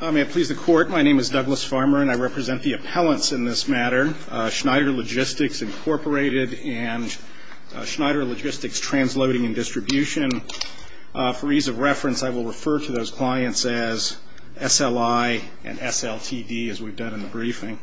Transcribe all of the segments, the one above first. My name is Douglas Farmer and I represent the appellants in this matter, Schneider Logistics, Inc. and Schneider Logistics, Transloading and Distribution. For ease of reference, I will refer to those clients as SLI and SLTD as we've done in the briefing.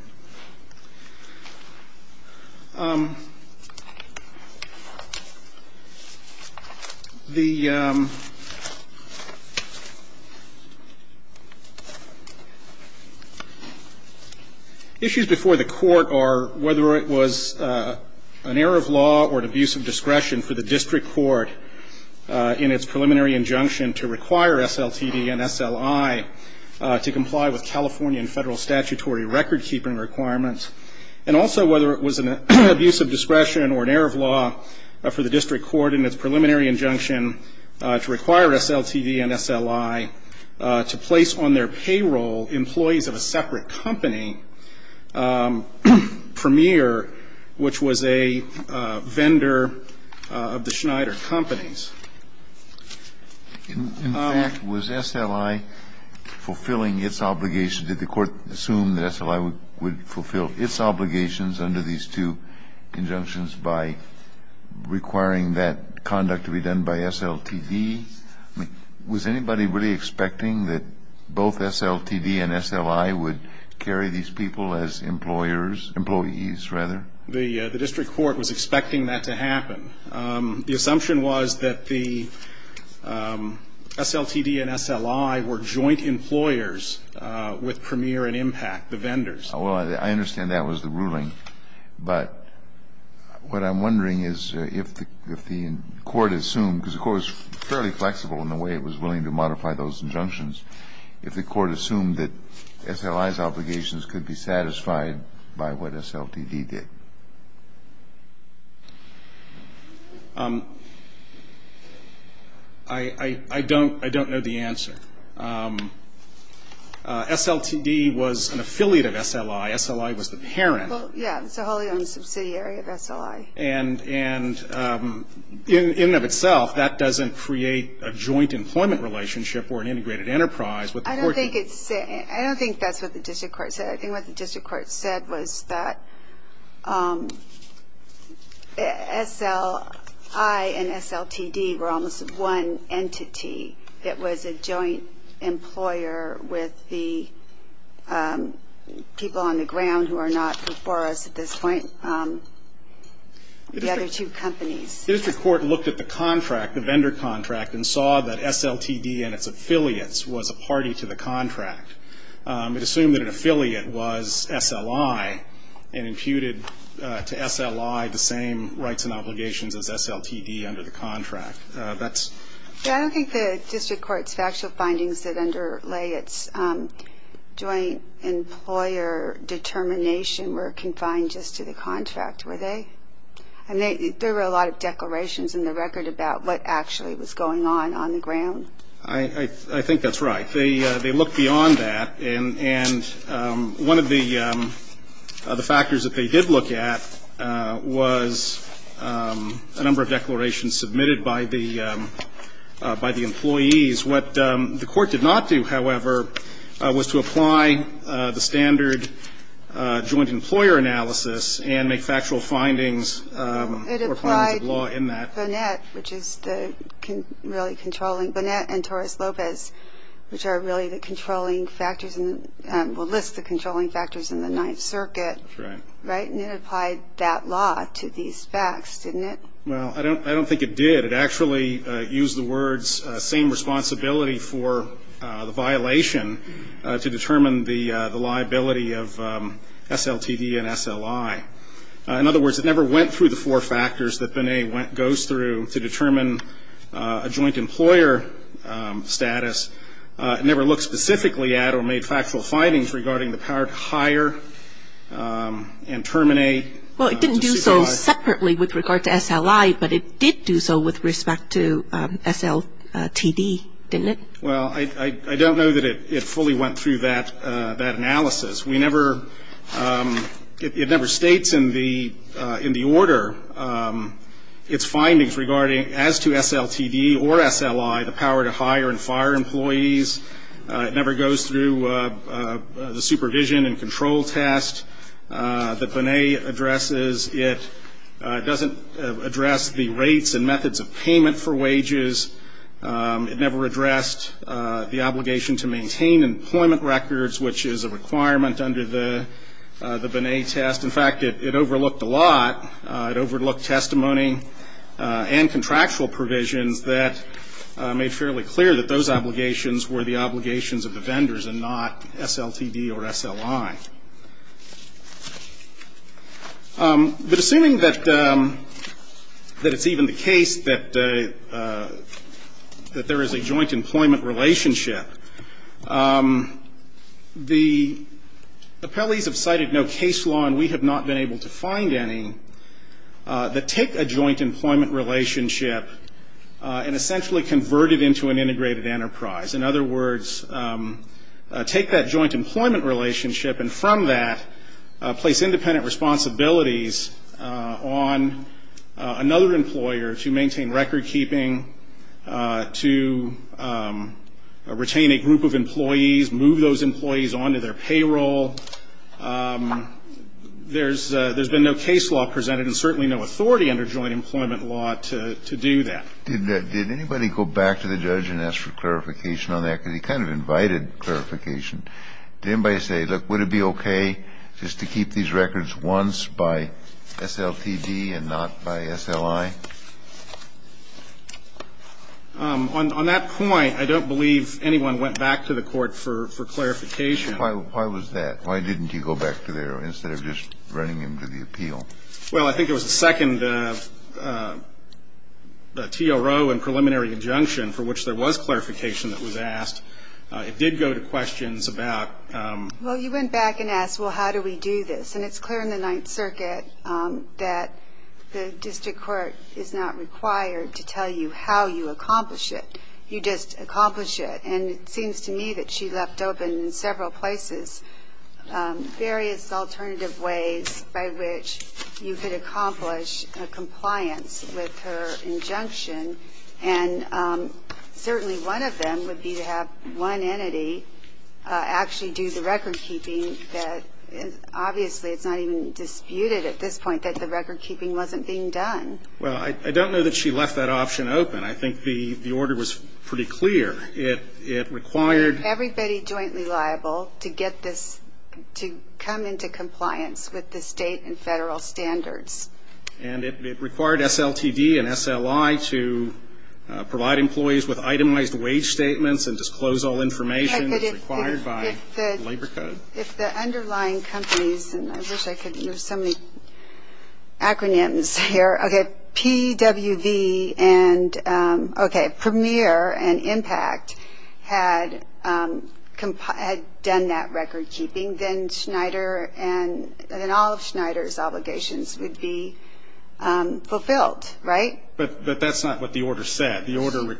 Issues before the court are whether it was an error of law or an abuse of discretion for the district court in its preliminary injunction to require SLTD and SLI to comply with California and federal statutory record keeping requirements. And also whether it was an abuse of discretion or an error of law for the district court in its preliminary injunction to require SLTD and SLI to place on their payroll employees of a separate company, Premier, which was a vendor of the Schneider Companies. In fact, was SLI fulfilling its obligation? Did the court assume that SLI would fulfill its obligations under these two injunctions by requiring that conduct to be done by SLTD? Was anybody really expecting that both SLTD and SLI would carry these people as employers, employees rather? The district court was expecting that to happen. The assumption was that the SLTD and SLI were joint employers with Premier and Impact, the vendors. Well, I understand that was the ruling. But what I'm wondering is if the court assumed, because the court was fairly flexible in the way it was willing to modify those injunctions, if the court assumed that SLI's obligations could be satisfied by what SLTD did. I don't know the answer. SLTD was an affiliate of SLI. SLI was the parent. Well, yeah. It's a wholly owned subsidiary of SLI. And in and of itself, that doesn't create a joint employment relationship or an integrated enterprise with the court. I don't think that's what the district court said. I think what the district court said was that SLI and SLTD were almost one entity. It was a joint employer with the people on the ground who are not before us at this point, the other two companies. The district court looked at the contract, the vendor contract, and saw that SLTD and its affiliates was a party to the contract. It assumed that an affiliate was SLI and imputed to SLI the same rights and obligations as SLTD under the contract. I don't think the district court's factual findings that underlay its joint employer determination were confined just to the contract, were they? I mean, there were a lot of declarations in the record about what actually was going on on the ground. I think that's right. They looked beyond that. And one of the factors that they did look at was a number of declarations submitted by the employees. What the court did not do, however, was to apply the standard joint employer analysis and make factual findings or findings of law in that. And that's what Bonet, which is the really controlling, Bonet and Torres-Lopez, which are really the controlling factors, will list the controlling factors in the Ninth Circuit. Right. And it applied that law to these facts, didn't it? Well, I don't think it did. It actually used the words same responsibility for the violation to determine the liability of SLTD and SLI. In other words, it never went through the four factors that Bonet goes through to determine a joint employer status. It never looked specifically at or made factual findings regarding the power to hire and terminate. Well, it didn't do so separately with regard to SLI, but it did do so with respect to SLTD, didn't it? Well, I don't know that it fully went through that analysis. We never – it never states in the order its findings regarding, as to SLTD or SLI, the power to hire and fire employees. It never goes through the supervision and control test that Bonet addresses. It doesn't address the rates and methods of payment for wages. It never addressed the obligation to maintain employment records, which is a requirement under the Bonet test. In fact, it overlooked a lot. It overlooked testimony and contractual provisions that made fairly clear that those obligations were the obligations of the vendors and not SLTD or SLI. But assuming that it's even the case that there is a joint employment relationship, the appellees have cited no case law, and we have not been able to find any, that take a joint employment relationship and essentially convert it into an integrated enterprise. In other words, take that joint employment relationship and from that place independent responsibilities on another employer to maintain record keeping, to retain a group of employees, move those employees on to their payroll. There's been no case law presented and certainly no authority under joint employment law to do that. Did anybody go back to the judge and ask for clarification on that? Because he kind of invited clarification. Did anybody say, look, would it be okay just to keep these records once by SLTD and not by SLI? On that point, I don't believe anyone went back to the court for clarification. Why was that? Why didn't you go back to there instead of just running him to the appeal? Well, I think it was the second TRO and preliminary injunction for which there was clarification that was asked. It did go to questions about ‑‑ Well, you went back and asked, well, how do we do this? And it's clear in the Ninth Circuit that the district court is not required to tell you how you accomplish it. You just accomplish it. And it seems to me that she left open in several places various alternative ways by which you could accomplish a compliance with her injunction. And certainly one of them would be to have one entity actually do the recordkeeping that obviously it's not even disputed at this point that the recordkeeping wasn't being done. Well, I don't know that she left that option open. I think the order was pretty clear. It required ‑‑ Everybody jointly liable to get this to come into compliance with the state and federal standards. And it required SLTD and SLI to provide employees with itemized wage statements and disclose all information that's required by the labor code. If the underlying companies, and I wish I could use so many acronyms here, okay, if PWV and, okay, Premier and Impact had done that recordkeeping, then Schneider and all of Schneider's obligations would be fulfilled, right? But that's not what the order said. The order ‑‑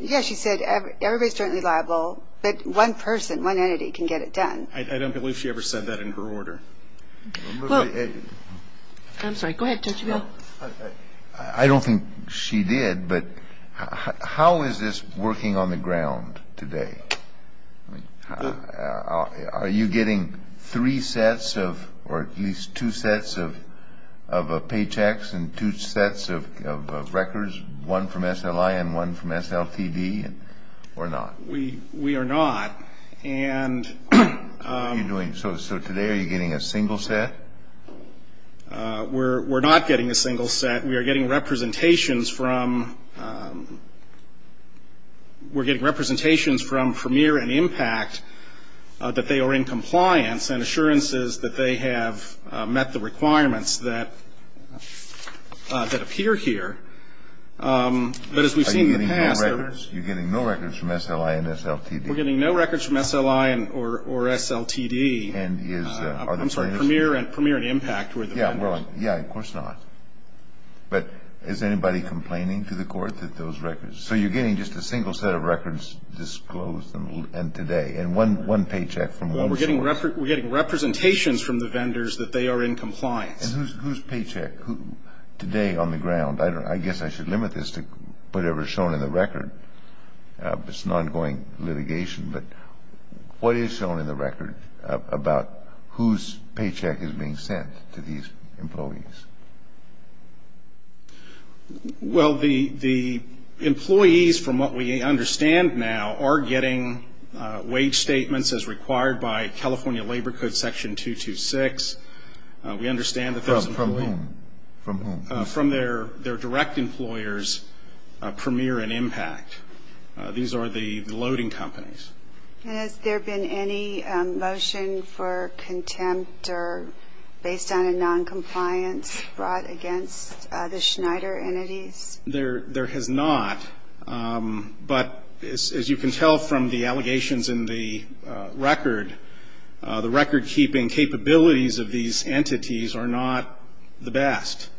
Yeah, she said everybody's jointly liable, but one person, one entity can get it done. Well ‑‑ I'm sorry. Go ahead. Don't you go. I don't think she did, but how is this working on the ground today? Are you getting three sets of, or at least two sets of paychecks and two sets of records, one from SLI and one from SLTD, or not? We are not. What are you doing? So today are you getting a single set? We're not getting a single set. We are getting representations from Premier and Impact that they are in compliance and assurances that they have met the requirements that appear here. But as we've seen in the past ‑‑ Are you getting no records? You're getting no records from SLI and SLTD? We're getting no records from SLI or SLTD. And is ‑‑ I'm sorry, Premier and Impact were the vendors. Yeah, of course not. But is anybody complaining to the court that those records ‑‑ So you're getting just a single set of records disclosed and today, and one paycheck from one source. Well, we're getting representations from the vendors that they are in compliance. And whose paycheck? Today on the ground. I guess I should limit this to whatever is shown in the record. It's an ongoing litigation. But what is shown in the record about whose paycheck is being sent to these employees? Well, the employees, from what we understand now, are getting wage statements as required by California Labor Code Section 226. We understand that there's ‑‑ From whom? From whom? Premier and Impact. These are the loading companies. And has there been any motion for contempt or based on a noncompliance brought against the Schneider entities? There has not. But as you can tell from the allegations in the record, the recordkeeping capabilities of these entities are not the best.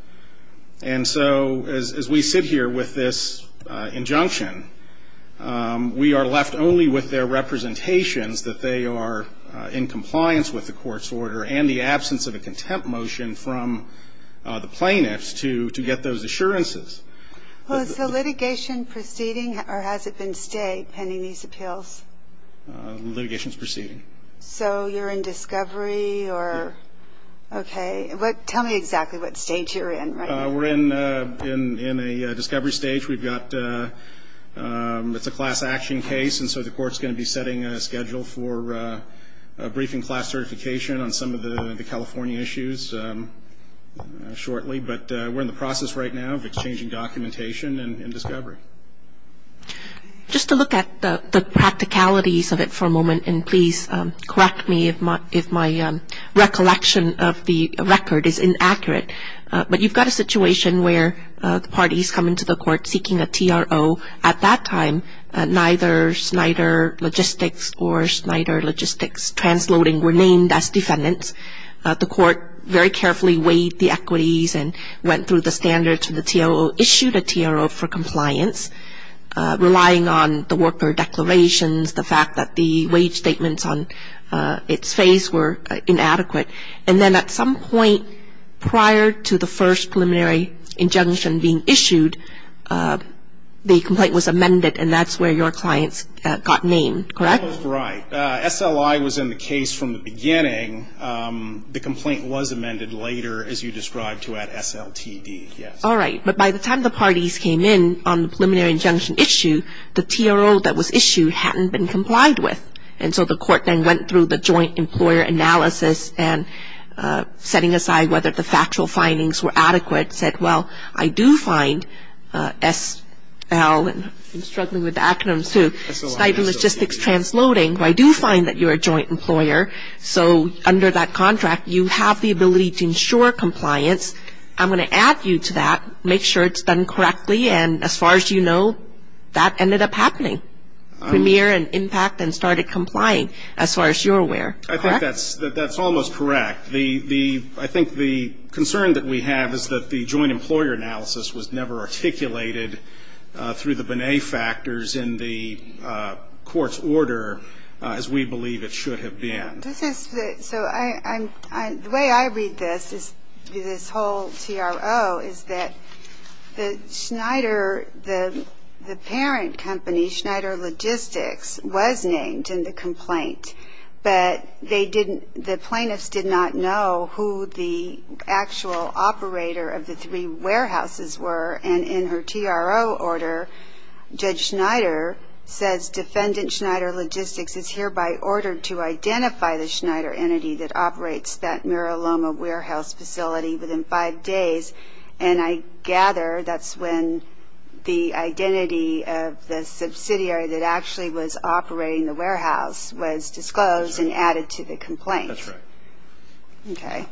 And so as we sit here with this injunction, we are left only with their representations that they are in compliance with the court's order and the absence of a contempt motion from the plaintiffs to get those assurances. Well, is the litigation proceeding or has it been stayed pending these appeals? The litigation is proceeding. So you're in discovery or ‑‑ Yes. Okay. Tell me exactly what stage you're in right now. We're in a discovery stage. We've got ‑‑ it's a class action case, and so the court's going to be setting a schedule for a briefing class certification on some of the California issues shortly. But we're in the process right now of exchanging documentation in discovery. Just to look at the practicalities of it for a moment, and please correct me if my recollection of the record is inaccurate, but you've got a situation where the parties come into the court seeking a TRO. At that time, neither Schneider Logistics or Schneider Logistics Transloading were named as defendants. The court very carefully weighed the equities and went through the standards for the TRO, issued a TRO for compliance, relying on the worker declarations, the fact that the wage statements on its face were inadequate. And then at some point prior to the first preliminary injunction being issued, the complaint was amended, and that's where your clients got named, correct? Right. SLI was in the case from the beginning. The complaint was amended later, as you described, to add SLTD, yes. All right. But by the time the parties came in on the preliminary injunction issue, the TRO that was issued hadn't been complied with. And so the court then went through the joint employer analysis and setting aside whether the factual findings were adequate, said, well, I do find SL, and I'm struggling with acronyms too, Schneider Logistics Transloading, I do find that you're a joint employer, so under that contract you have the ability to ensure compliance. I'm going to add you to that, make sure it's done correctly, and as far as you know, that ended up happening. Premier and impact then started complying, as far as you're aware, correct? I think that's almost correct. I think the concern that we have is that the joint employer analysis was never articulated through the Binet factors in the court's order as we believe it should have been. So the way I read this, this whole TRO, is that the parent company, Schneider Logistics, was named in the complaint, but the plaintiffs did not know who the actual operator of the three warehouses were, and in her TRO order, Judge Schneider says, defendant Schneider Logistics is hereby ordered to identify the Schneider entity that operates that Mira Loma warehouse facility within five days, and I gather that's when the identity of the subsidiary that actually was operating the warehouse was disclosed and added to the complaint. That's right. Okay.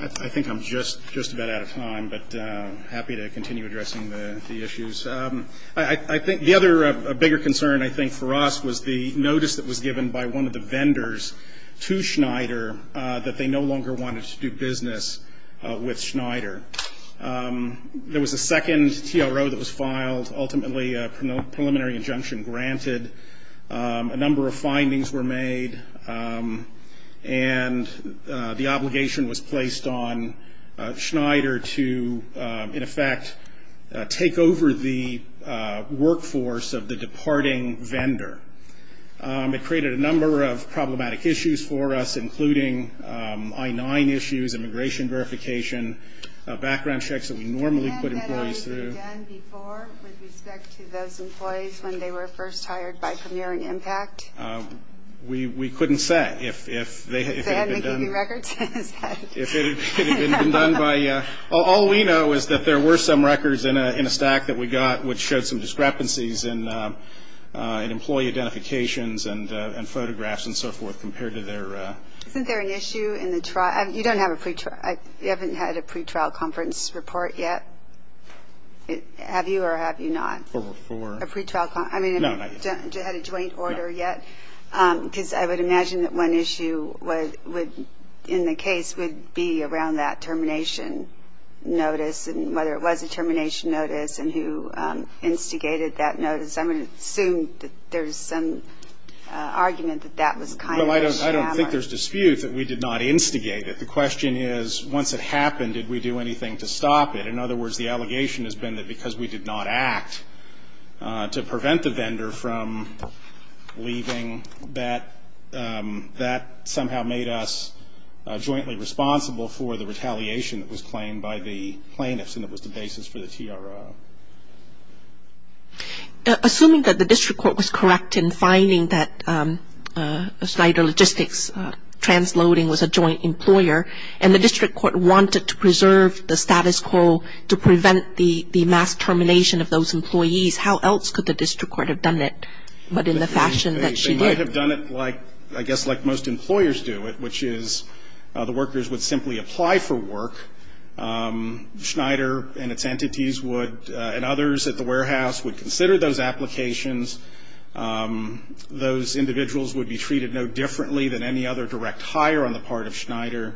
I think I'm just about out of time, but happy to continue addressing the issues. The other bigger concern, I think, for us was the notice that was given by one of the vendors to Schneider that they no longer wanted to do business with Schneider. There was a second TRO that was filed, ultimately a preliminary injunction granted. A number of findings were made, and the obligation was placed on Schneider to, in effect, take over the workforce of the departing vendor. It created a number of problematic issues for us, including I-9 issues, immigration verification, background checks that we normally put employees through. With respect to those employees when they were first hired by Premiering Impact? We couldn't say. If they hadn't been keeping records? If it had been done by you. All we know is that there were some records in a stack that we got which showed some discrepancies in employee identifications and photographs and so forth compared to their. Isn't there an issue in the trial? You don't have a pre-trial? You haven't had a pre-trial conference report yet? Have you or have you not? For? A pre-trial conference? No, not yet. I mean, have you had a joint order yet? No. Because I would imagine that one issue in the case would be around that termination notice and whether it was a termination notice and who instigated that notice. I would assume that there's some argument that that was kind of a sham. Well, I don't think there's dispute that we did not instigate it. The question is once it happened, did we do anything to stop it? In other words, the allegation has been that because we did not act to prevent the vendor from leaving, that somehow made us jointly responsible for the retaliation that was claimed by the plaintiffs and it was the basis for the TRO. Assuming that the district court was correct in finding that Schneider Logistics transloading was a joint employer and the district court wanted to preserve the status quo to prevent the mass termination of those employees, how else could the district court have done it but in the fashion that she did? They might have done it like, I guess, like most employers do it, which is the workers would simply apply for work. Schneider and its entities would and others at the warehouse would consider those applications. Those individuals would be treated no differently than any other direct hire on the part of Schneider.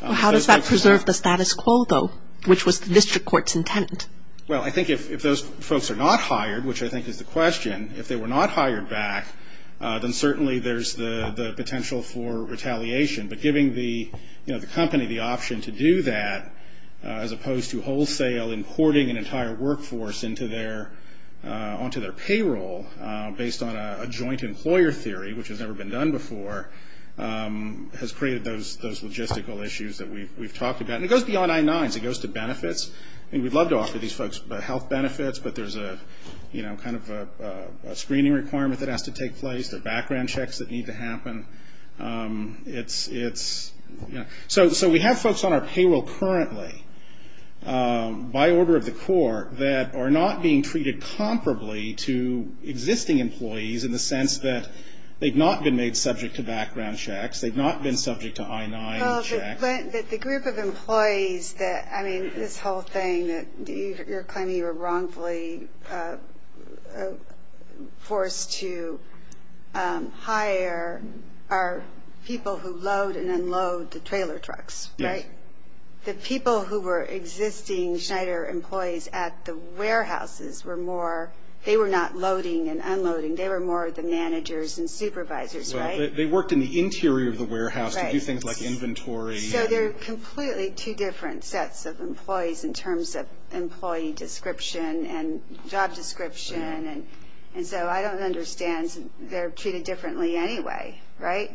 How does that preserve the status quo, though, which was the district court's intent? Well, I think if those folks are not hired, which I think is the question, if they were not hired back, then certainly there's the potential for retaliation. But giving the company the option to do that as opposed to wholesale, importing an entire workforce onto their payroll based on a joint employer theory, which has never been done before, has created those logistical issues that we've talked about. And it goes beyond I-9s. It goes to benefits. I mean, we'd love to offer these folks health benefits, but there's a kind of a screening requirement that has to take place. There are background checks that need to happen. It's, you know. So we have folks on our payroll currently by order of the court that are not being treated comparably to existing employees in the sense that they've not been made subject to background checks. They've not been subject to I-9 checks. The group of employees that, I mean, this whole thing that you're claiming you were wrongfully forced to hire are people who load and unload the trailer trucks, right? Yes. The people who were existing Schneider employees at the warehouses were more. They were not loading and unloading. They were more the managers and supervisors, right? They worked in the interior of the warehouse to do things like inventory. So they're completely two different sets of employees in terms of employee description and job description. And so I don't understand. They're treated differently anyway, right?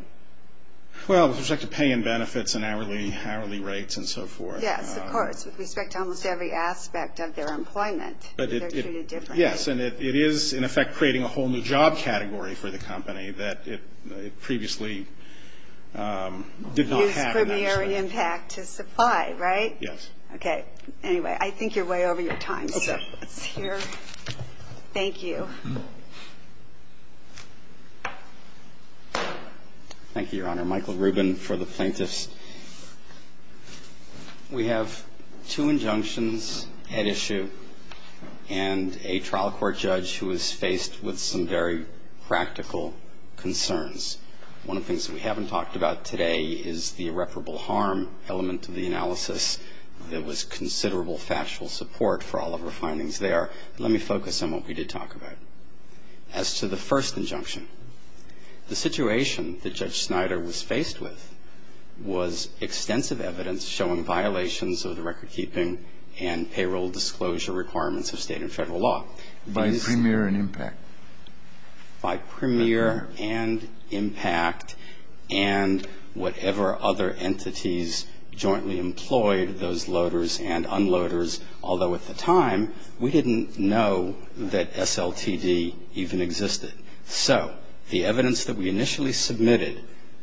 Well, with respect to pay and benefits and hourly rates and so forth. Yes, of course, with respect to almost every aspect of their employment. They're treated differently. Yes. And it is, in effect, creating a whole new job category for the company that it previously did not have in that respect. Used premiary impact to supply, right? Yes. Okay. Anyway, I think you're way over your time. So let's hear. Thank you. Thank you, Your Honor. Michael Rubin for the plaintiffs. We have two injunctions at issue and a trial court judge who is faced with some very practical concerns. One of the things that we haven't talked about today is the irreparable harm element of the analysis. There was considerable factual support for all of our findings there. Let me focus on what we did talk about. As to the first injunction, the situation that Judge Snyder was faced with was extensive evidence showing violations of the record-keeping and payroll disclosure requirements of State and Federal law. By premier and impact. By premier and impact and whatever other entities jointly employed those loaders and unloaders, although at the time we didn't know that SLTD even existed. So the evidence that we initially submitted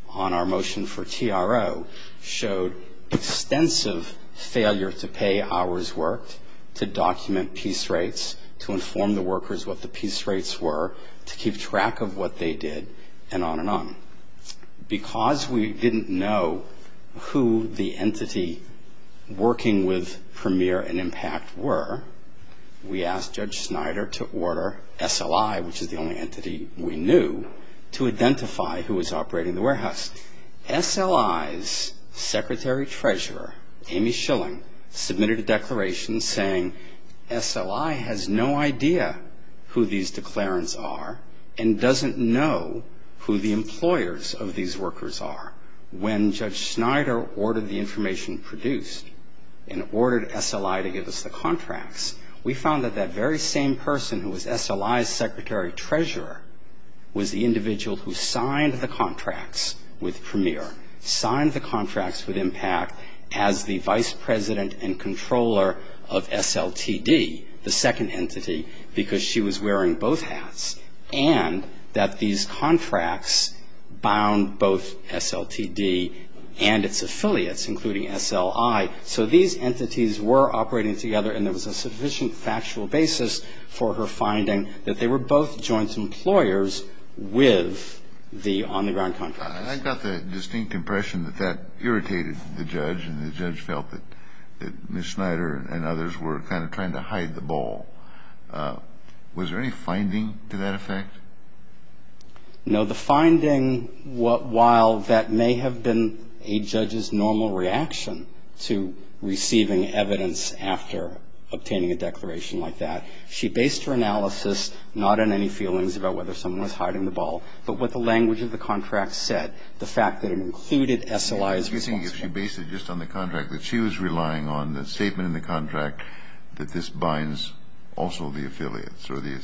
on our motion for TRO showed extensive failure to pay hours worked, to document piece rates, to inform the workers what the piece rates were, to keep track of what they did, and on and on. Because we didn't know who the entity working with premier and impact were, we asked Judge Snyder to order SLI, which is the only entity we knew, to identify who was operating the warehouse. SLI's secretary treasurer, Amy Schilling, submitted a declaration saying SLI has no idea who these declarants are and doesn't know who the employers of these workers are. When Judge Snyder ordered the information produced and ordered SLI to give us the contracts, we found that that very same person who was SLI's secretary treasurer was the individual who signed the contracts with premier, signed the contracts with impact as the vice president and controller of SLTD, the second entity, because she was wearing both hats, and that these contracts bound both SLTD and its affiliates, including SLI. So these entities were operating together, and there was a sufficient factual basis for her finding that they were both joint employers with the on-the-ground contractors. I got the distinct impression that that irritated the judge, and the judge felt that Ms. Snyder and others were kind of trying to hide the ball. Was there any finding to that effect? No. The finding, while that may have been a judge's normal reaction to receiving evidence after obtaining a declaration like that, she based her analysis not on any feelings about whether someone was hiding the ball, but what the language of the contract said, the fact that it included SLI's responsibility. So you're saying if she based it just on the contract that she was relying on, the statement in the contract, that this binds also the affiliates, or the...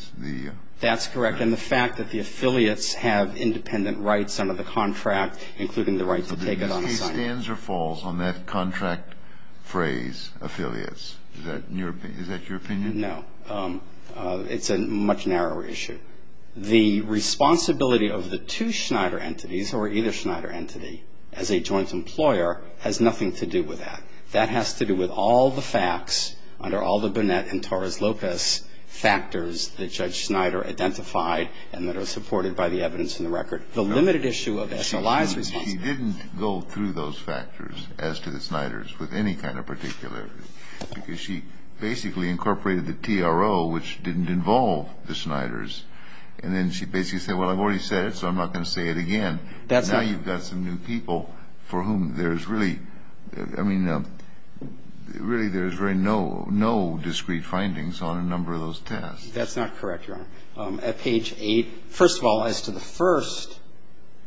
That's correct, and the fact that the affiliates have independent rights under the contract, including the right to take it on assignment. So the case stands or falls on that contract phrase, affiliates. Is that your opinion? No. It's a much narrower issue. The responsibility of the two Snyder entities, or either Snyder entity, as a joint employer, has nothing to do with that. That has to do with all the facts under all the Burnett and Torres-Lopez factors that Judge Snyder identified and that are supported by the evidence in the record. The limited issue of SLI's responsibility... She didn't go through those factors as to the Snyders with any kind of particular... Because she basically incorporated the TRO, which didn't involve the Snyders. And then she basically said, well, I've already said it, so I'm not going to say it again. Now you've got some new people for whom there's really no discrete findings on a number of those tests. That's not correct, Your Honor. At page 8, first of all, as to the first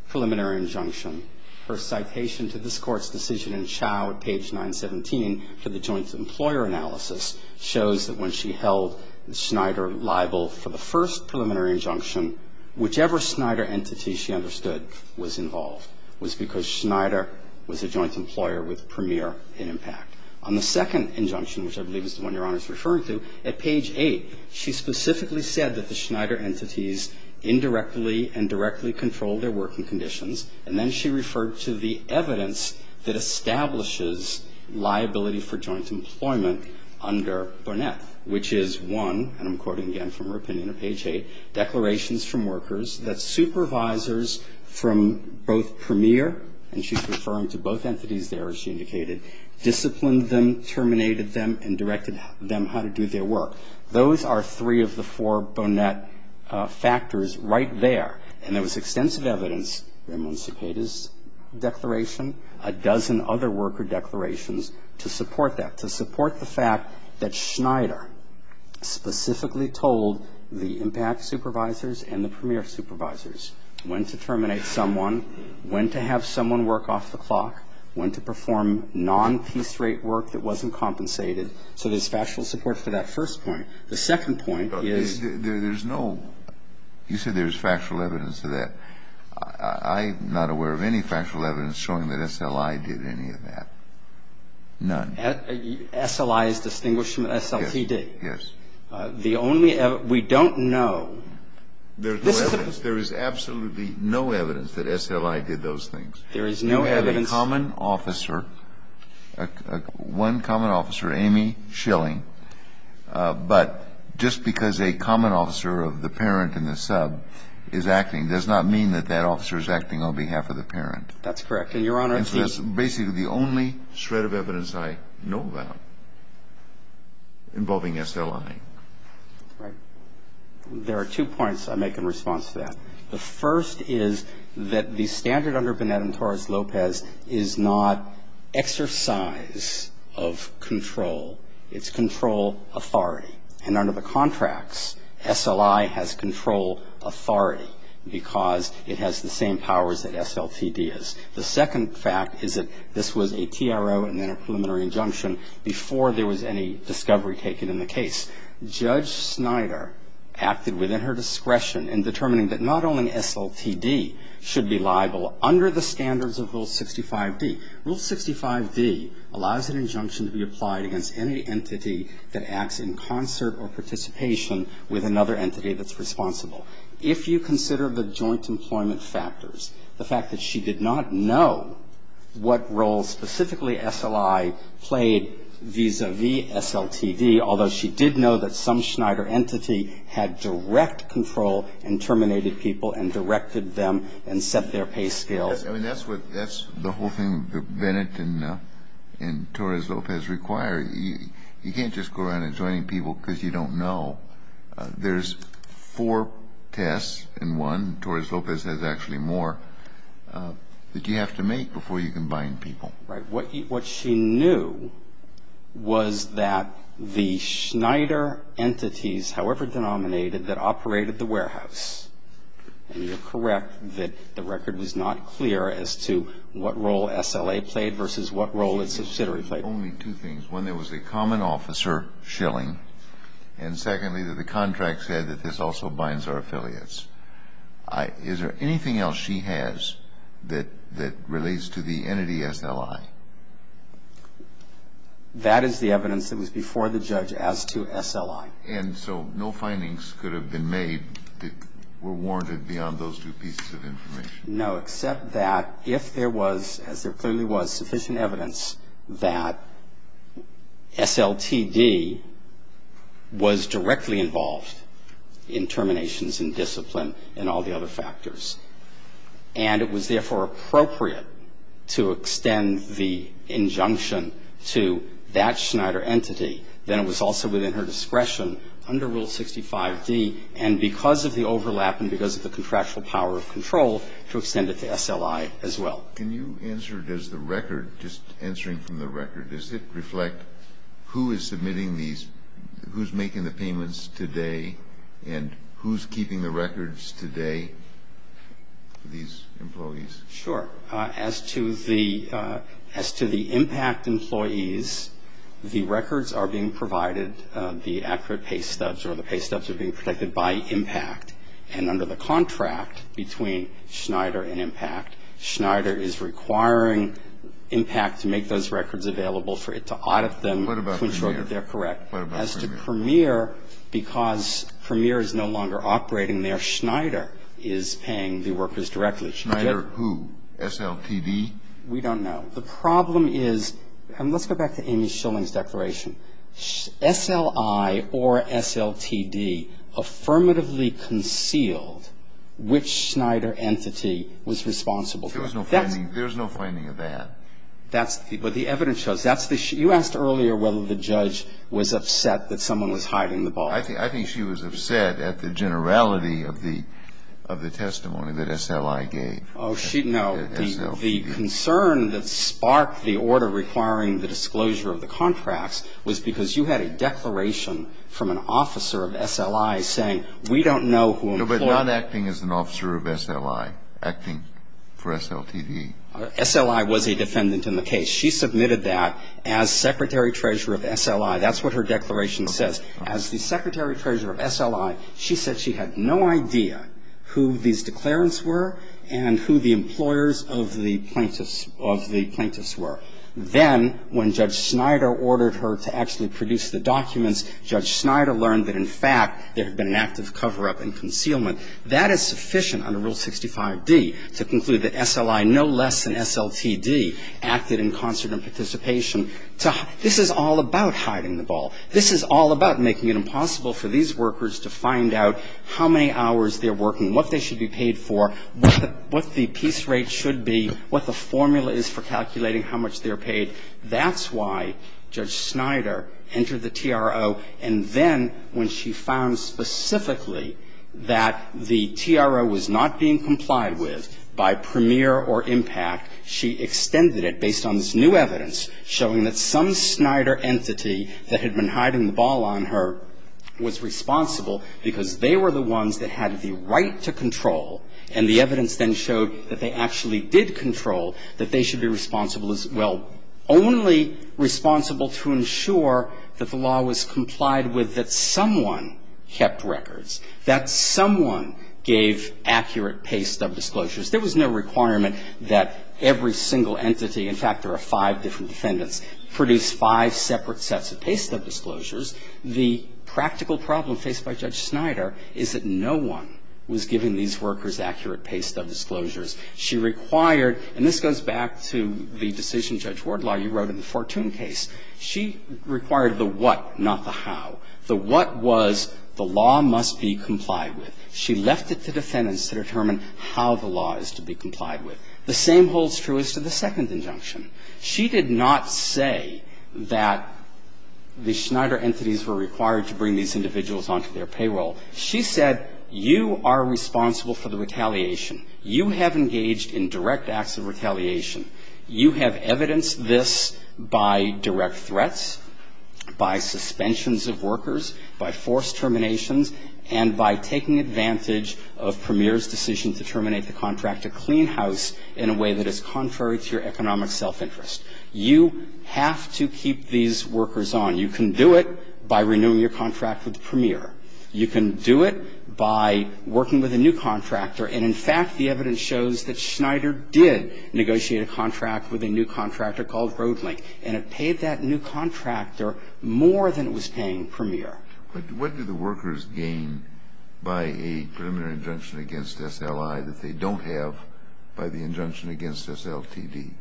preliminary injunction, her citation to this Court's decision in Chao at page 917 for the joint employer analysis shows that when she held Snyder liable for the first preliminary injunction, whichever Snyder entity she understood was involved was because Snyder was a joint employer with premier impact. On the second injunction, which I believe is the one Your Honor is referring to, at page 8, she specifically said that the Snyder entities indirectly and directly controlled their working conditions, and then she referred to the evidence that establishes liability for joint employment under Bonnet, which is one, and I'm quoting again from her opinion at page 8, declarations from workers that supervisors from both premier, and she's referring to both entities there, as she indicated, disciplined them, terminated them, and directed them how to do their work. Those are three of the four Bonnet factors right there. And there was extensive evidence in Monsique's declaration, a dozen other worker declarations, to support that, to support the fact that Snyder specifically told the impact supervisors and the premier supervisors when to terminate someone, when to have someone work off the clock, when to perform non-piece rate work that wasn't compensated. So there's factual support for that first point. The second point is. There's no, you said there's factual evidence to that. I'm not aware of any factual evidence showing that SLI did any of that. None. SLI is distinguished from SLTD. Yes. The only, we don't know. There is absolutely no evidence that SLI did those things. There is no evidence. One common officer, Amy Schilling, but just because a common officer of the parent and the sub is acting does not mean that that officer is acting on behalf of the parent. That's correct. And, Your Honor, the. And so that's basically the only shred of evidence I know about involving SLI. Right. There are two points I make in response to that. The first is that the standard under Bonetta and Torres-Lopez is not exercise of control. It's control authority. And under the contracts, SLI has control authority because it has the same powers that SLTD has. The second fact is that this was a TRO and then a preliminary injunction before there was any discovery taken in the case. Judge Snyder acted within her discretion in determining that not only SLTD should be liable under the standards of Rule 65d. Rule 65d allows an injunction to be applied against any entity that acts in concert or participation with another entity that's responsible. If you consider the joint employment factors, the fact that she did not know what role SLI played vis-a-vis SLTD, although she did know that some Schneider entity had direct control and terminated people and directed them and set their pay scales. I mean, that's the whole thing that Bonetta and Torres-Lopez require. You can't just go around adjoining people because you don't know. There's four tests in one. And she knew that the Schneider entities, however denominated, that operated the warehouse and you're correct that the record was not clear as to what role SLA played versus what role its subsidiary played. There were only two things. One, there was a common officer shilling, and secondly, that the contract said that this also binds our affiliates. Is there anything else she has that relates to the entity SLI? That is the evidence that was before the judge as to SLI. And so no findings could have been made that were warranted beyond those two pieces of information? No, except that if there was, as there clearly was, sufficient evidence that SLTD was directly involved in terminations and discipline and all the other factors, and it was therefore appropriate to extend the injunction to that Schneider entity, then it was also within her discretion under Rule 65d, and because of the overlap and because of the contractual power of control, to extend it to SLI as well. Can you answer, does the record, just answering from the record, does it reflect who is submitting these, who's making the payments today, and who's keeping the records today for these employees? Sure. As to the impact employees, the records are being provided, the accurate pay stubs or the pay stubs are being protected by impact, and under the contract between Schneider and Impact, Schneider is requiring Impact to make those records available for it to audit them to ensure that they're correct. What about Premier? As to Premier, because Premier is no longer operating there, Schneider is paying the workers directly. Schneider who? SLTD? We don't know. The problem is, and let's go back to Amy Schilling's declaration. I think she was upset at the generality of the testimony that SLI gave. Oh, she, no. The concern that sparked the order requiring the disclosure of the contracts was that The SLCD was not responsible. No, but not acting as an officer of SLI, acting for SLTD. SLI was a defendant in the case. She submitted that as Secretary-Treasurer of SLI. That's what her declaration says. As the Secretary-Treasurer of SLI, she said she had no idea who these declarants were and who the employers of the plaintiffs, of the plaintiffs were. Judge Schneider learned that, in fact, there had been an active cover-up and concealment. That is sufficient under Rule 65d to conclude that SLI, no less than SLTD, acted in concert and participation. This is all about hiding the ball. This is all about making it impossible for these workers to find out how many hours they're working, what they should be paid for, what the piece rate should be, what the formula is for calculating how much they're paid. That's why Judge Schneider entered the TRO. And then when she found specifically that the TRO was not being complied with by premier or impact, she extended it based on this new evidence showing that some Schneider entity that had been hiding the ball on her was responsible because they were the ones that had the right to control. And the evidence then showed that they actually did control that they should be responsible as well, only responsible to ensure that the law was complied with, that someone kept records, that someone gave accurate pay stub disclosures. There was no requirement that every single entity, in fact, there are five different defendants, produce five separate sets of pay stub disclosures. The practical problem faced by Judge Schneider is that no one was giving these workers accurate pay stub disclosures. She required, and this goes back to the decision, Judge Wardlaw, you wrote in the Fortune case, she required the what, not the how. The what was the law must be complied with. She left it to defendants to determine how the law is to be complied with. The same holds true as to the second injunction. She did not say that the Schneider entities were required to bring these individuals onto their payroll. She said you are responsible for the retaliation. You have engaged in direct acts of retaliation. You have evidenced this by direct threats, by suspensions of workers, by forced terminations, and by taking advantage of Premier's decision to terminate the contract to clean house in a way that is contrary to your economic self-interest. You have to keep these workers on. You can do it by renewing your contract with Premier. You can do it by working with a new contractor. And, in fact, the evidence shows that Schneider did negotiate a contract with a new contractor called Roadlink, and it paid that new contractor more than it was paying Premier. But what do the workers gain by a preliminary injunction against SLI that they don't have by the injunction against SLTD?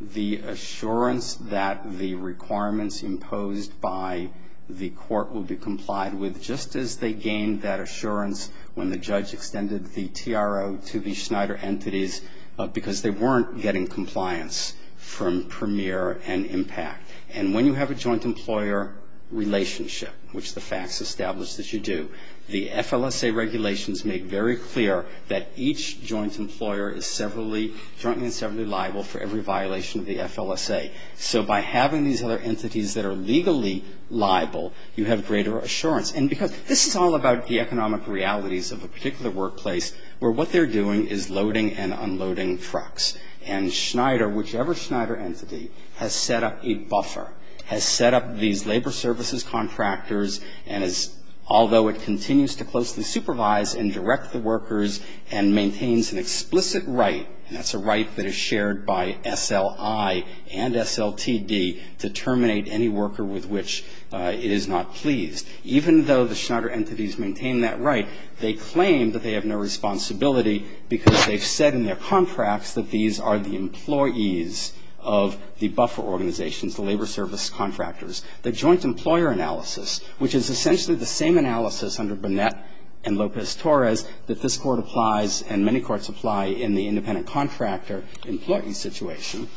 The assurance that the requirements imposed by the court will be complied with, just as they gained that assurance when the judge extended the TRO to the Schneider entities because they weren't getting compliance from Premier and IMPACT. And when you have a joint employer relationship, which the facts establish that you do, the FLSA regulations make very clear that each joint employer is severally, jointly and severally liable for every violation of the FLSA. So by having these other entities that are legally liable, you have greater assurance. And because this is all about the economic realities of a particular workplace where what they're doing is loading and unloading trucks. And Schneider, whichever Schneider entity, has set up a buffer, has set up these labor services contractors, and is, although it continues to closely supervise and direct the workers and maintains an explicit right, and that's a right that is shared by SLI and SLTD, to terminate any worker with which it is not pleased. Even though the Schneider entities maintain that right, they claim that they have no responsibility because they've said in their contracts that these are the employees of the buffer organizations, the labor service contractors. The joint employer analysis, which is essentially the same analysis under Burnett and Lopez-Torres that this Court applies and many courts apply in the independent contractor employee situation,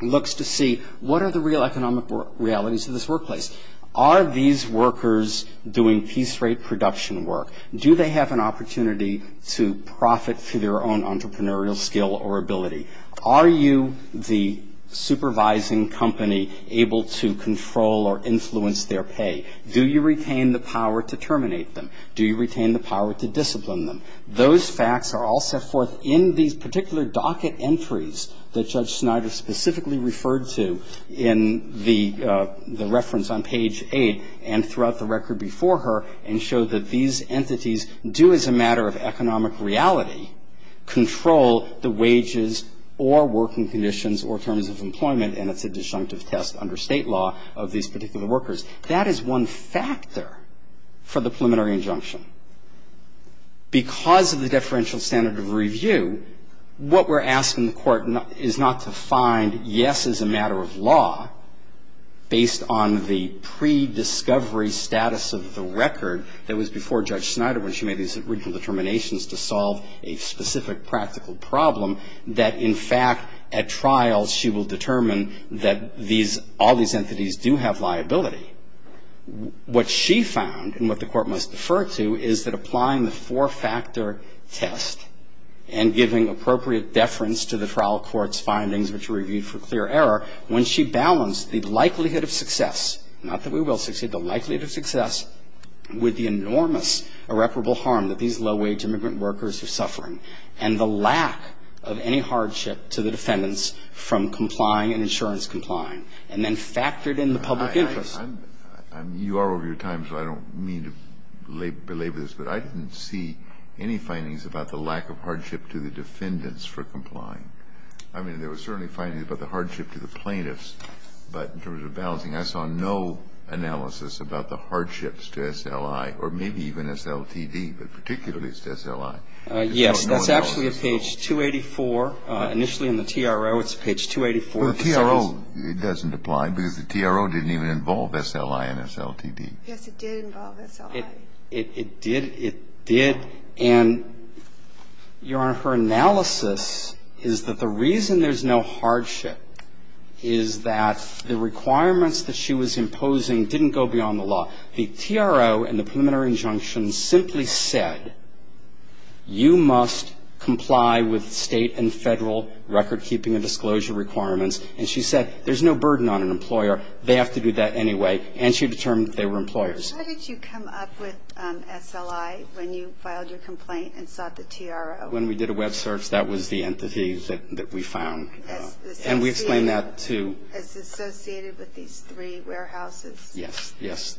looks to see what are the real economic realities of this workplace. Are these workers doing piece rate production work? Do they have an opportunity to profit through their own entrepreneurial skill or ability? Are you the supervising company able to control or influence their pay? Do you retain the power to terminate them? Do you retain the power to discipline them? Those facts are all set forth in these particular docket entries that Judge Schneider specifically referred to in the reference on page 8 and throughout the record before her, and show that these entities do, as a matter of economic reality, control the wages or working conditions or terms of employment, and it's a disjunctive test under State law of these particular workers. That is one factor for the preliminary injunction. Because of the deferential standard of review, what we're asking the Court is not to find, yes, as a matter of law, based on the prediscovery status of the record that was before Judge Schneider when she made these original determinations to solve a specific practical problem, that in fact at trial she will determine that all these entities do have liability. What she found, and what the Court must defer to, is that applying the four-factor test and giving appropriate deference to the trial court's findings, which are reviewed for clear error, when she balanced the likelihood of success, not that we are over your time, so I don't mean to belabor this, but I didn't see any findings about the lack of hardship to the defendants for complying. I mean, there were certainly findings about the hardship to the plaintiffs, but in terms of balancing, I saw no analysis about the hardships to SLI, or maybe I don't know. I don't know. I don't know. indeed induce hardship to SLI. It does apply to SLI, but maybe even SLTD, but particularly to SLI. Yes, that's actually at page 284. Initially in the TRO, it's page 284. Well, the TRO, it doesn't apply because the TRO didn't even involve SLI and SLTD. Yes, it did involve SLI. It did. And, Your Honor, her analysis is that the reason there's no hardship is that the requirements that she was imposing didn't go beyond the law. The TRO and the preliminary injunction simply said, you must comply with state and federal recordkeeping and disclosure requirements. And she said, there's no burden on an employer. They have to do that anyway. And she determined they were employers. How did you come up with SLI when you filed your complaint and sought the TRO? When we did a web search, that was the entity that we found. And we explained that to – As associated with these three warehouses. Yes, yes.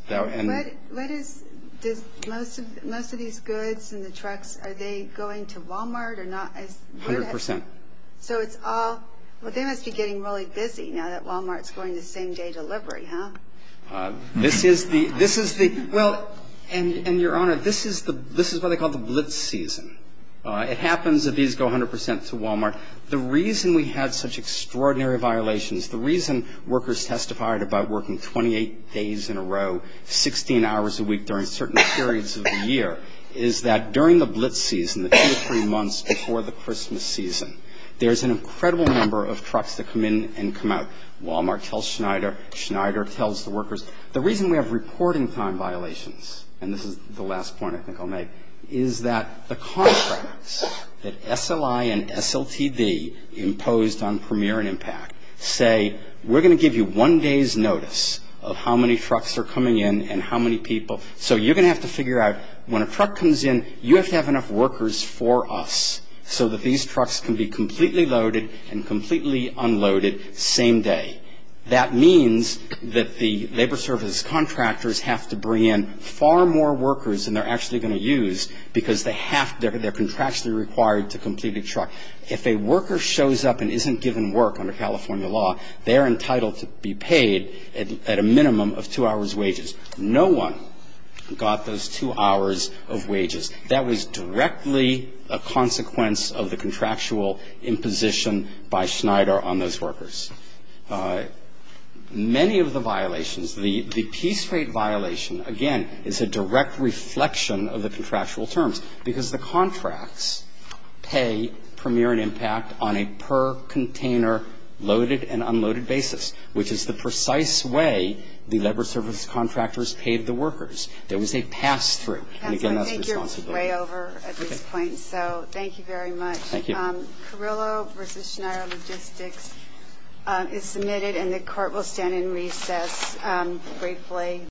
What is – most of these goods and the trucks, are they going to Wal-Mart or not? A hundred percent. So it's all – well, they must be getting really busy now that Wal-Mart's going to same-day delivery, huh? This is the – this is the – well, and, Your Honor, this is the – this is what they call the blitz season. It happens that these go a hundred percent to Wal-Mart. The reason we had such extraordinary violations, the reason workers testified about working 28 days in a row, 16 hours a week during certain periods of the year, is that during the blitz season, the two or three months before the Christmas season, there's an incredible number of trucks that come in and come out. Wal-Mart tells Schneider. Schneider tells the workers. The reason we have reporting time violations – and this is the last point I think I'll make – is that the contracts that SLI and SLTD imposed on Premier and Impact say, we're going to give you one day's notice of how many trucks are coming in and how many people – so you're going to have to figure out when a truck comes in, you have to have enough workers for us so that these trucks can be completely loaded and completely unloaded same day. That means that the labor service contractors have to bring in far more workers than they're actually going to use because they have – they're contractually required to complete a truck. If a worker shows up and isn't given work under California law, they're entitled to be paid at a minimum of two hours' wages. No one got those two hours of wages. That was directly a consequence of the contractual imposition by Schneider on those workers. Many of the violations – the piece rate violation, again, is a direct reflection of the contractual terms because the contracts pay Premier and Impact on a per container loaded and unloaded basis, which is the precise way the labor service contractors paid the workers. There was a pass-through. Again, that's responsible. I think you're way over at this point, so thank you very much. Thank you. Carrillo v. Schneider Logistics is submitted, and the Court will stand in recess briefly.